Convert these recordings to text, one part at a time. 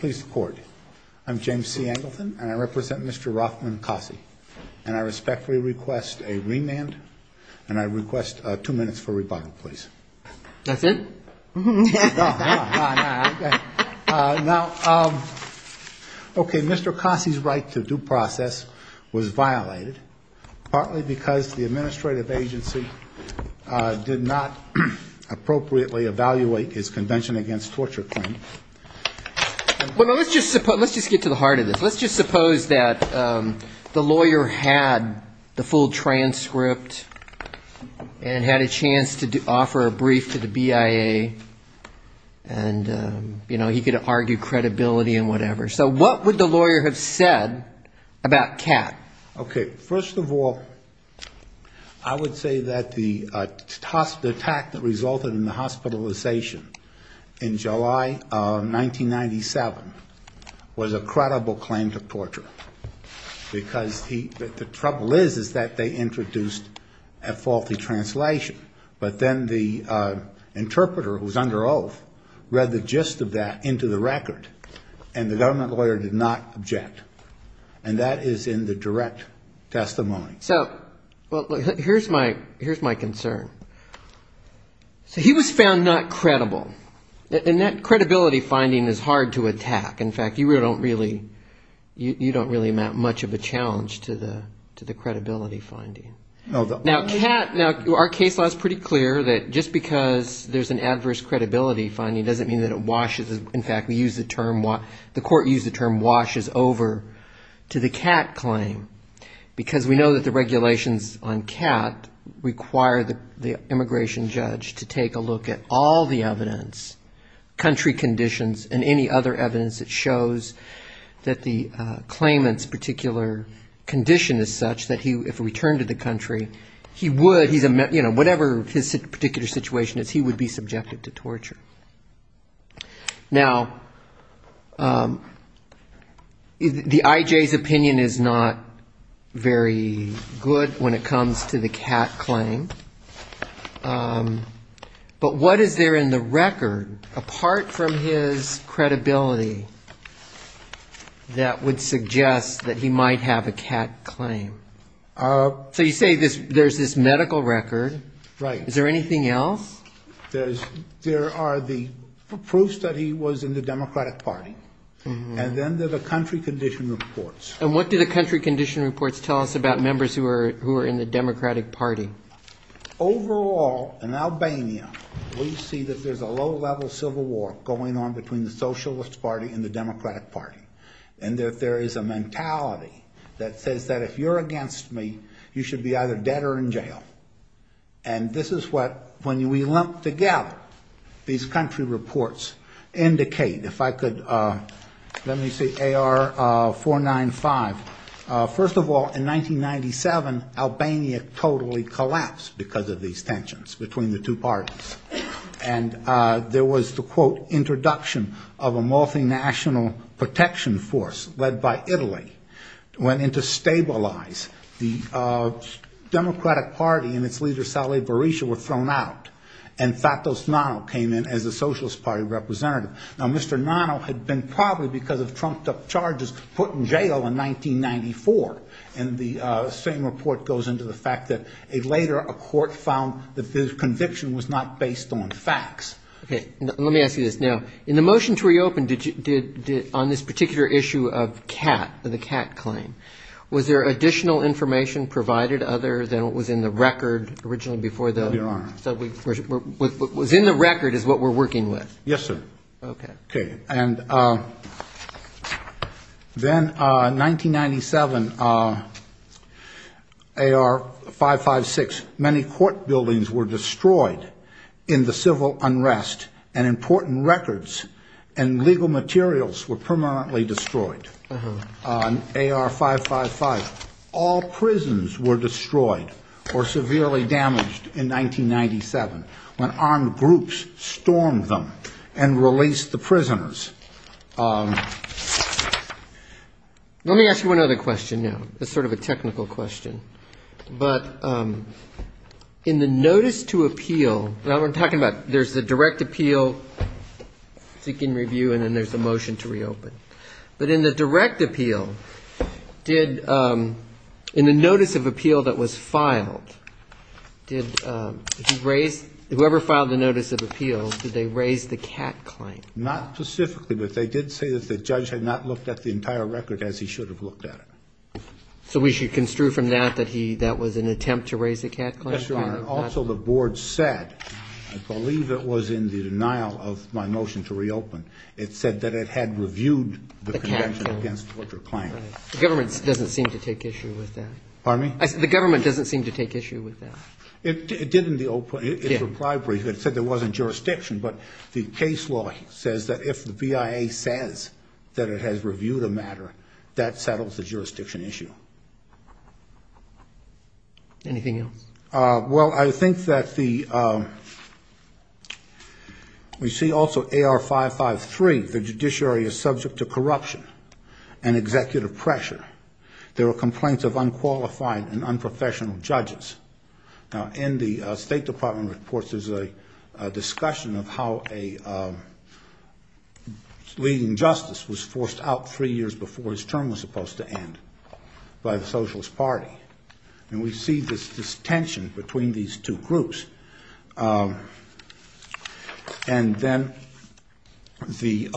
Please report. I'm James C. Angleton and I represent Mr. Rothman Kasi. And I respectfully request a remand and I request two minutes for rebuttal, please. That's it? No, no, no. Okay. Now, okay, Mr. Kasi's right to due process was violated, partly because the administrative agency did not appropriately evaluate his convention against torture claim. Well, let's just get to the heart of this. Let's just suppose that the lawyer had the full transcript and had a chance to offer a brief to the BIA and, you know, he could argue credibility and whatever. So what would the lawyer have said about Kat? Okay. First of all, I would say that the attack that resulted in the hospitalization in July 1997 was a credible claim to torture, because the trouble is, is that they introduced a faulty translation. But then the interpreter, who was under oath, read the gist of that into the record, and the government lawyer did not object. And that is in the direct testimony. So here's my concern. So he was found not credible. And that credibility finding is hard to attack. In fact, you don't really, you don't really amount much of a challenge to the credibility finding. Now, Kat, now, our case law is pretty clear that just because there's an adverse credibility finding doesn't mean that it washes, in fact, we use the term, the court used the term washes over to the Kat claim, because we know that the regulations on Kat require the immigration judge to take a look at all the evidence, country conditions, and any other evidence that shows that the claimant's particular condition is such that if we turn to the government, whatever his particular situation is, he would be subjected to torture. Now, the IJ's opinion is not very good when it comes to the Kat claim. But what is there in the record, apart from his credibility, that would suggest that he might have a Kat claim? So you say there's this medical record. Is there anything else? There are the proofs that he was in the Democratic Party. And then there's the country condition reports. And what do the country condition reports tell us about members who are in the Democratic Party? First of all, in 1997, Albania totally collapsed because of these tensions between the two parties. And there was the, quote, introduction of a multinational protection force led by Italy, went in to stabilize the Democratic Party and its leader, Salih Barisha, were thrown out. And Fatos Nano came in as a Socialist Party representative. Now, Mr. Nano had been probably, because of trumped-up charges, put in jail in 1994. And the same report goes into the fact that later a court found that this conviction was not based on facts. Okay. Let me ask you this. Now, in the motion to reopen, on this particular issue of Kat, the Kat claim, was there additional information provided other than what was in the record originally before the? Yes, sir. Okay. Let me ask you one other question now. It's sort of a technical question. But in the notice to appeal, now, we're talking about there's the direct appeal, seeking review, and then there's the motion to reopen. But in the direct appeal, did, in the notice of appeal that was filed, did he raise, whoever filed the notice of appeal, did they raise the Kat claim? Not specifically, but they did say that the judge had not looked at the entire record as he should have looked at it. So we should construe from that that he, that was an attempt to raise the Kat claim? Yes, Your Honor. Also, the board said, I believe it was in the denial of my motion to reopen, it said that it had reviewed the conviction against the Kat claim. The government doesn't seem to take issue with that. Pardon me? The government doesn't seem to take issue with that. It did in the, it replied briefly. It said there wasn't jurisdiction. But the case law says that if the BIA says that it has reviewed a matter, that settles the jurisdiction issue. Anything else? Well, I think that the, we see also AR 553, the judiciary is subject to corruption and executive pressure. There were complaints of unqualified and unprofessional judges. Now, in the State Department reports, there's a discussion of how a leading justice was forced out three years before his term was supposed to end by the Socialist Party. And we see this tension between these two groups. And then the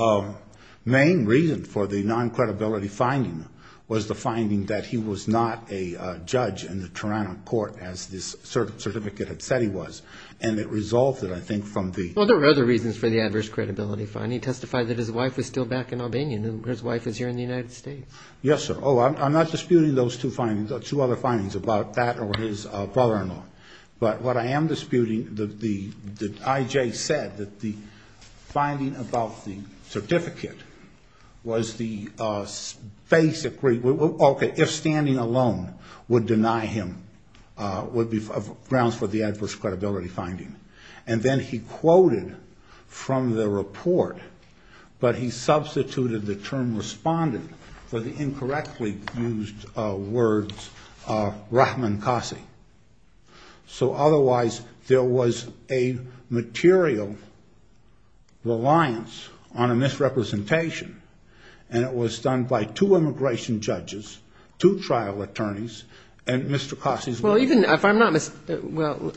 main reason for the non-credibility finding was the finding that he was not a judge in the Toronto court, as this certificate had said he was. And it resolved it, I think, from the... Well, there were other reasons for the adverse credibility finding. Testify that his wife was still back in Albania and his wife was here in the United States. Yes, sir. Oh, I'm not disputing those two findings, two other findings about that or his father-in-law. But what I am disputing, the IJ said that the finding about the certificate was the basic... Okay, if standing alone would deny him, would be grounds for the adverse credibility finding. And then he quoted from the report, but he substituted the term respondent for the incorrectly used words of Rahman Qasi. So otherwise, there was a material reliance on a misrepresentation, and it was done by two immigration judges, two trial attorneys, and Mr. Qasi's wife. Well, even if I'm not... Well,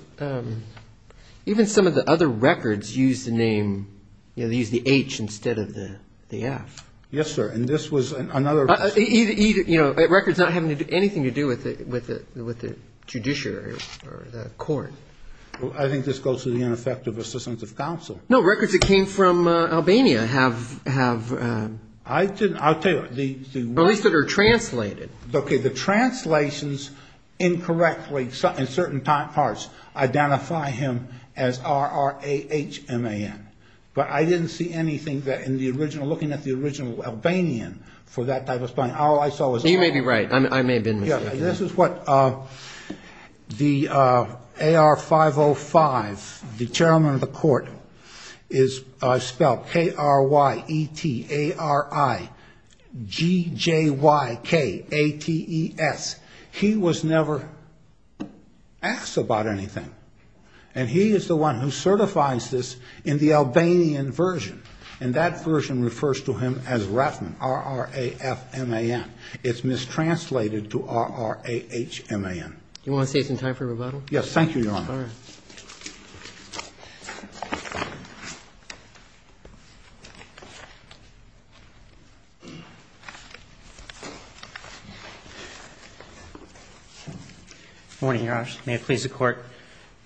even some of the other records use the name, use the H instead of the F. Yes, sir, and this was another... Records not having anything to do with the judiciary or the court. I think this goes to the ineffective assistance of counsel. No, records that came from Albania have... I'll tell you... At least that are translated. Okay, the translations incorrectly in certain parts identify him as R-R-A-H-M-A-N. But I didn't see anything that in the original, looking at the original Albanian for that type of... You may be right. I may have been mistaken. This is what the AR-505, the chairman of the court, is spelled K-R-Y-E-T-A-R-I-G-J-Y-K-A-T-E-S. He was never asked about anything, and he is the one who certifies this in the Albanian version, and that version refers to him as Rahman, R-R-A-F-M-A-N. It's mistranslated to R-R-A-H-M-A-N. Do you want to say it's in time for rebuttal? Yes, thank you, Your Honor. All right. Good morning, Your Honors. May it please the Court.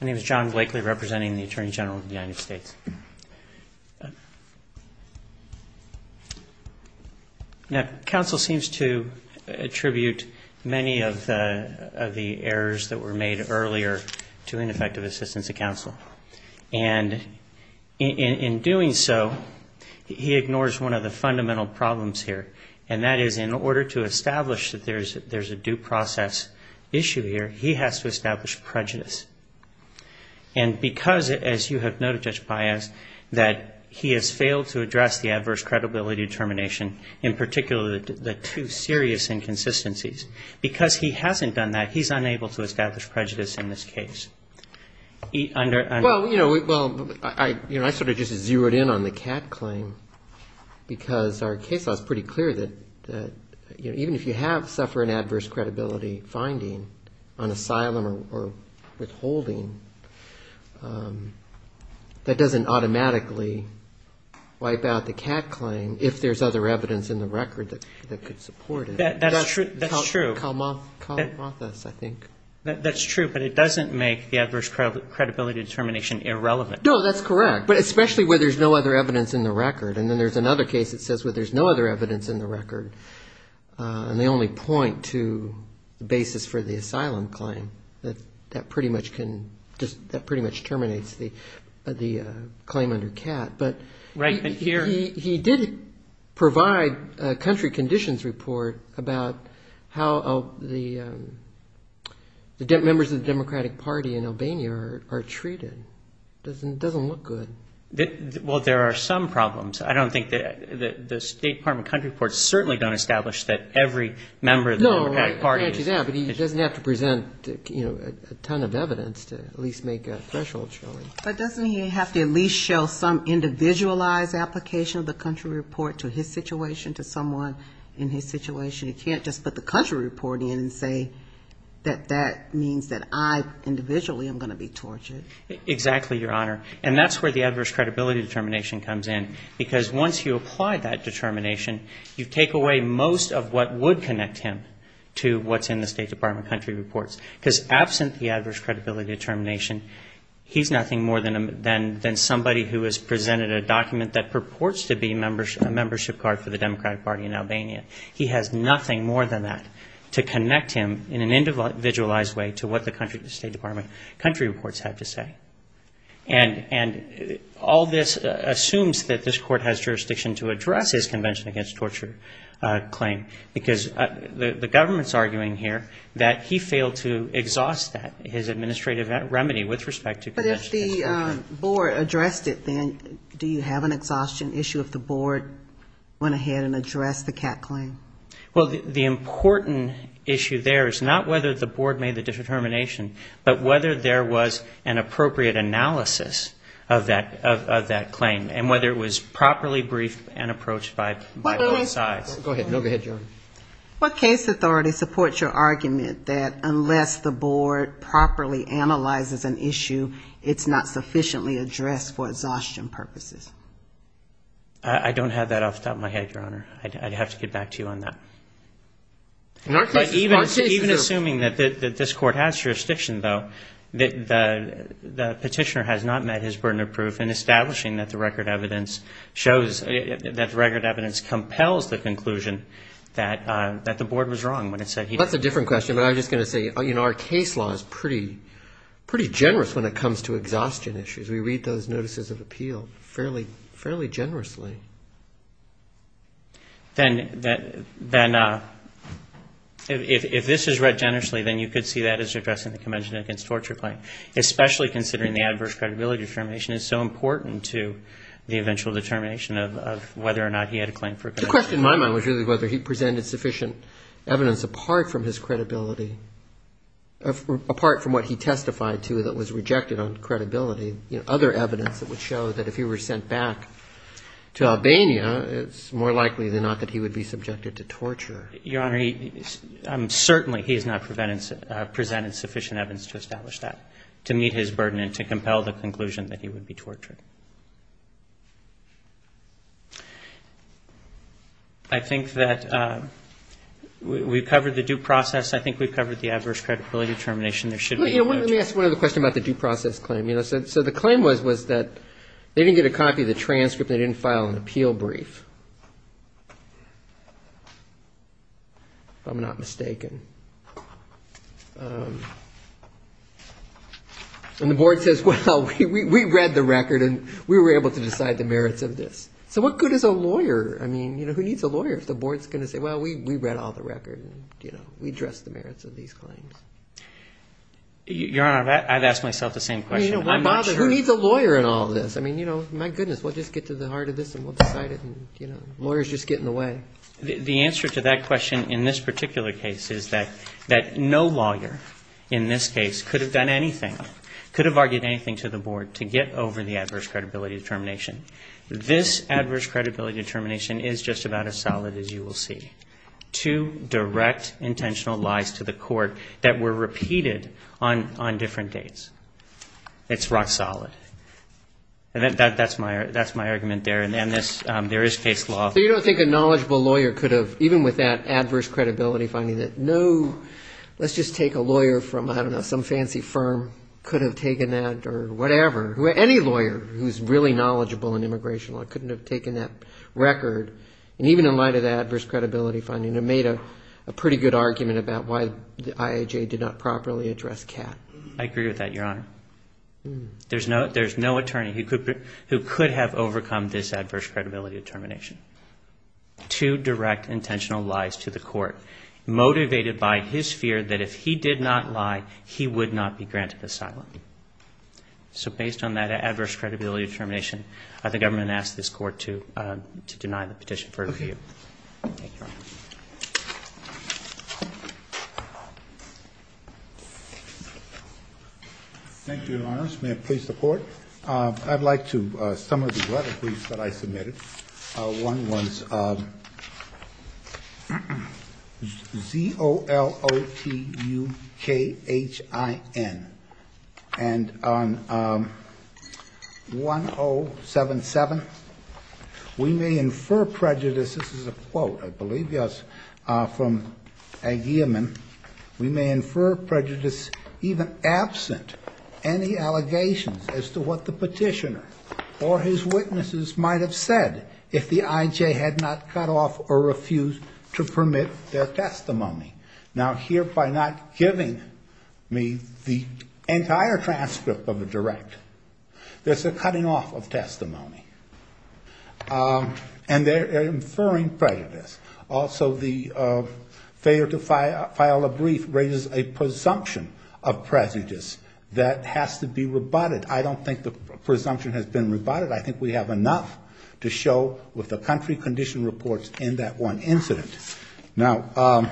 My name is John Blakely, representing the Attorney General of the United States. Now, counsel seems to attribute many of the errors that were made earlier to ineffective assistance of counsel. And in doing so, he ignores one of the fundamental problems here, and that is in order to establish that there's a due process issue here, he has to establish prejudice. And because, as you have noted, Judge Baez, that he has failed to address the adverse credibility determination, in particular the two serious inconsistencies, because he hasn't done that, he's unable to establish prejudice in this case. Well, you know, I sort of just zeroed in on the Catt claim, because our case law is pretty clear that even if you have suffered an adverse credibility finding on holding, that doesn't automatically wipe out the Catt claim if there's other evidence in the record that could support it. That's true. Kalamathas, I think. That's true, but it doesn't make the adverse credibility determination irrelevant. No, that's correct, but especially where there's no other evidence in the record. And then there's another case that says where there's no other evidence in the record, and they only point to the basis for the asylum claim. That pretty much terminates the claim under Catt. But he did provide a country conditions report about how the members of the Democratic Party in Albania are treated. It doesn't look good. Well, there are some problems. I don't think that the State Department country reports certainly don't establish that every member of the Democratic Party is. But he doesn't have to present a ton of evidence to at least make a threshold showing. But doesn't he have to at least show some individualized application of the country report to his situation, to someone in his situation? He can't just put the country report in and say that that means that I individually am going to be tortured. Exactly, Your Honor. And that's where the adverse credibility determination comes in. Because once you apply that determination, you take away most of what would connect him to what's in the State Department country reports. Because absent the adverse credibility determination, he's nothing more than somebody who has presented a document that purports to be a membership card for the Democratic Party in Albania. He has nothing more than that to connect him in an individualized way to what the State Department country reports have to say. And all this assumes that this court has jurisdiction to address his Convention Against Torture claim. Because the government's arguing here that he failed to exhaust that, his administrative remedy with respect to Convention Against Torture. But if the board addressed it, then do you have an exhaustion issue if the board went ahead and addressed the CAC claim? Well, the important issue there is not whether the board made the determination, but whether there was an appropriate analysis of that claim. And whether it was properly briefed and approached by both sides. Go ahead. Go ahead, Your Honor. What case authority supports your argument that unless the board properly analyzes an issue, it's not sufficiently addressed for exhaustion purposes? I don't have that off the top of my head, Your Honor. I'd have to get back to you on that. But even assuming that this court has jurisdiction, though, the petitioner has not met his burden of proof in establishing that the record evidence shows, that the record evidence compels the conclusion that the board was wrong when it said he didn't. That's a different question. But I was just going to say, you know, our case law is pretty generous when it comes to exhaustion issues. We read those notices of appeal fairly generously. Then if this is read generously, then you could see that as addressing the Convention Against Torture claim, especially considering the adverse credibility determination is so important to the eventual determination of whether or not he had a claim for a conviction. The question in my mind was really whether he presented sufficient evidence apart from his credibility, apart from what he testified to that was rejected on credibility, other evidence that would show that if he were sent back to Albania, it's more likely than not that he would be subjected to torture. Your Honor, certainly he has not presented sufficient evidence to establish that, to meet his burden and to compel the conclusion that he would be tortured. I think that we've covered the due process. I think we've covered the adverse credibility determination. Let me ask one other question about the due process claim. So the claim was that they didn't get a copy of the transcript. They didn't file an appeal brief, if I'm not mistaken. And the board says, well, we read the record and we were able to decide the merits of this. So what good is a lawyer? I mean, who needs a lawyer if the board is going to say, well, we read all the record. We addressed the merits of these claims. Your Honor, I've asked myself the same question. Who needs a lawyer in all this? I mean, my goodness, we'll just get to the heart of this and we'll decide it. Lawyers just get in the way. The answer to that question in this particular case is that no lawyer in this case could have done anything, could have argued anything to the board to get over the adverse credibility determination. This adverse credibility determination is just about as solid as you will see. Two direct intentional lies to the court that were repeated on different dates. It's rock solid. That's my argument there. And there is case law. So you don't think a knowledgeable lawyer could have, even with that adverse credibility finding, that no, let's just take a lawyer from, I don't know, some fancy firm could have taken that or whatever. Any lawyer who's really knowledgeable in immigration law couldn't have taken that record. And even in light of the adverse credibility finding, it made a pretty good argument about why the IAJ did not properly address Catt. I agree with that, Your Honor. There's no attorney who could have overcome this adverse credibility determination. Two direct intentional lies to the court, motivated by his fear that if he did not lie, he would not be granted asylum. So based on that adverse credibility determination, I think I'm going to ask this court to deny the petition for review. Thank you, Your Honor. Thank you, Your Honors. May I please report? I'd like to. Some of the letter briefs that I submitted, one was Z-O-L-O-T-U-K-H-I-N. And on 1-0-7-7, we may infer prejudice, this is a quote, I believe, yes, from Agyeman. We may infer prejudice even absent any allegations as to what the petitioner or his witnesses might have said if the IJ had not cut off or refused to permit their testimony. Now, here, by not giving me the entire transcript of the direct, there's a cutting off of testimony. And they're inferring prejudice. Also, the failure to file a brief raises a presumption of prejudice that has to be rebutted. I don't think the presumption has been rebutted. I think we have enough to show with the country condition reports in that one incident. Now,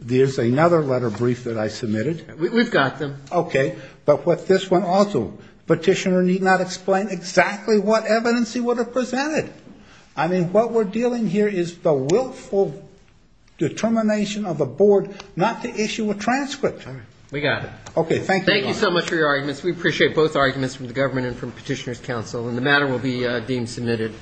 there's another letter brief that I submitted. We've got them. Okay. But with this one also, petitioner need not explain exactly what evidence he would have presented. I mean, what we're dealing here is the willful determination of a board not to issue a transcript. We got it. Okay, thank you, Your Honors. Thank you so much for your arguments. We appreciate both arguments from the government and from Petitioner's Council. And the matter will be deemed submitted.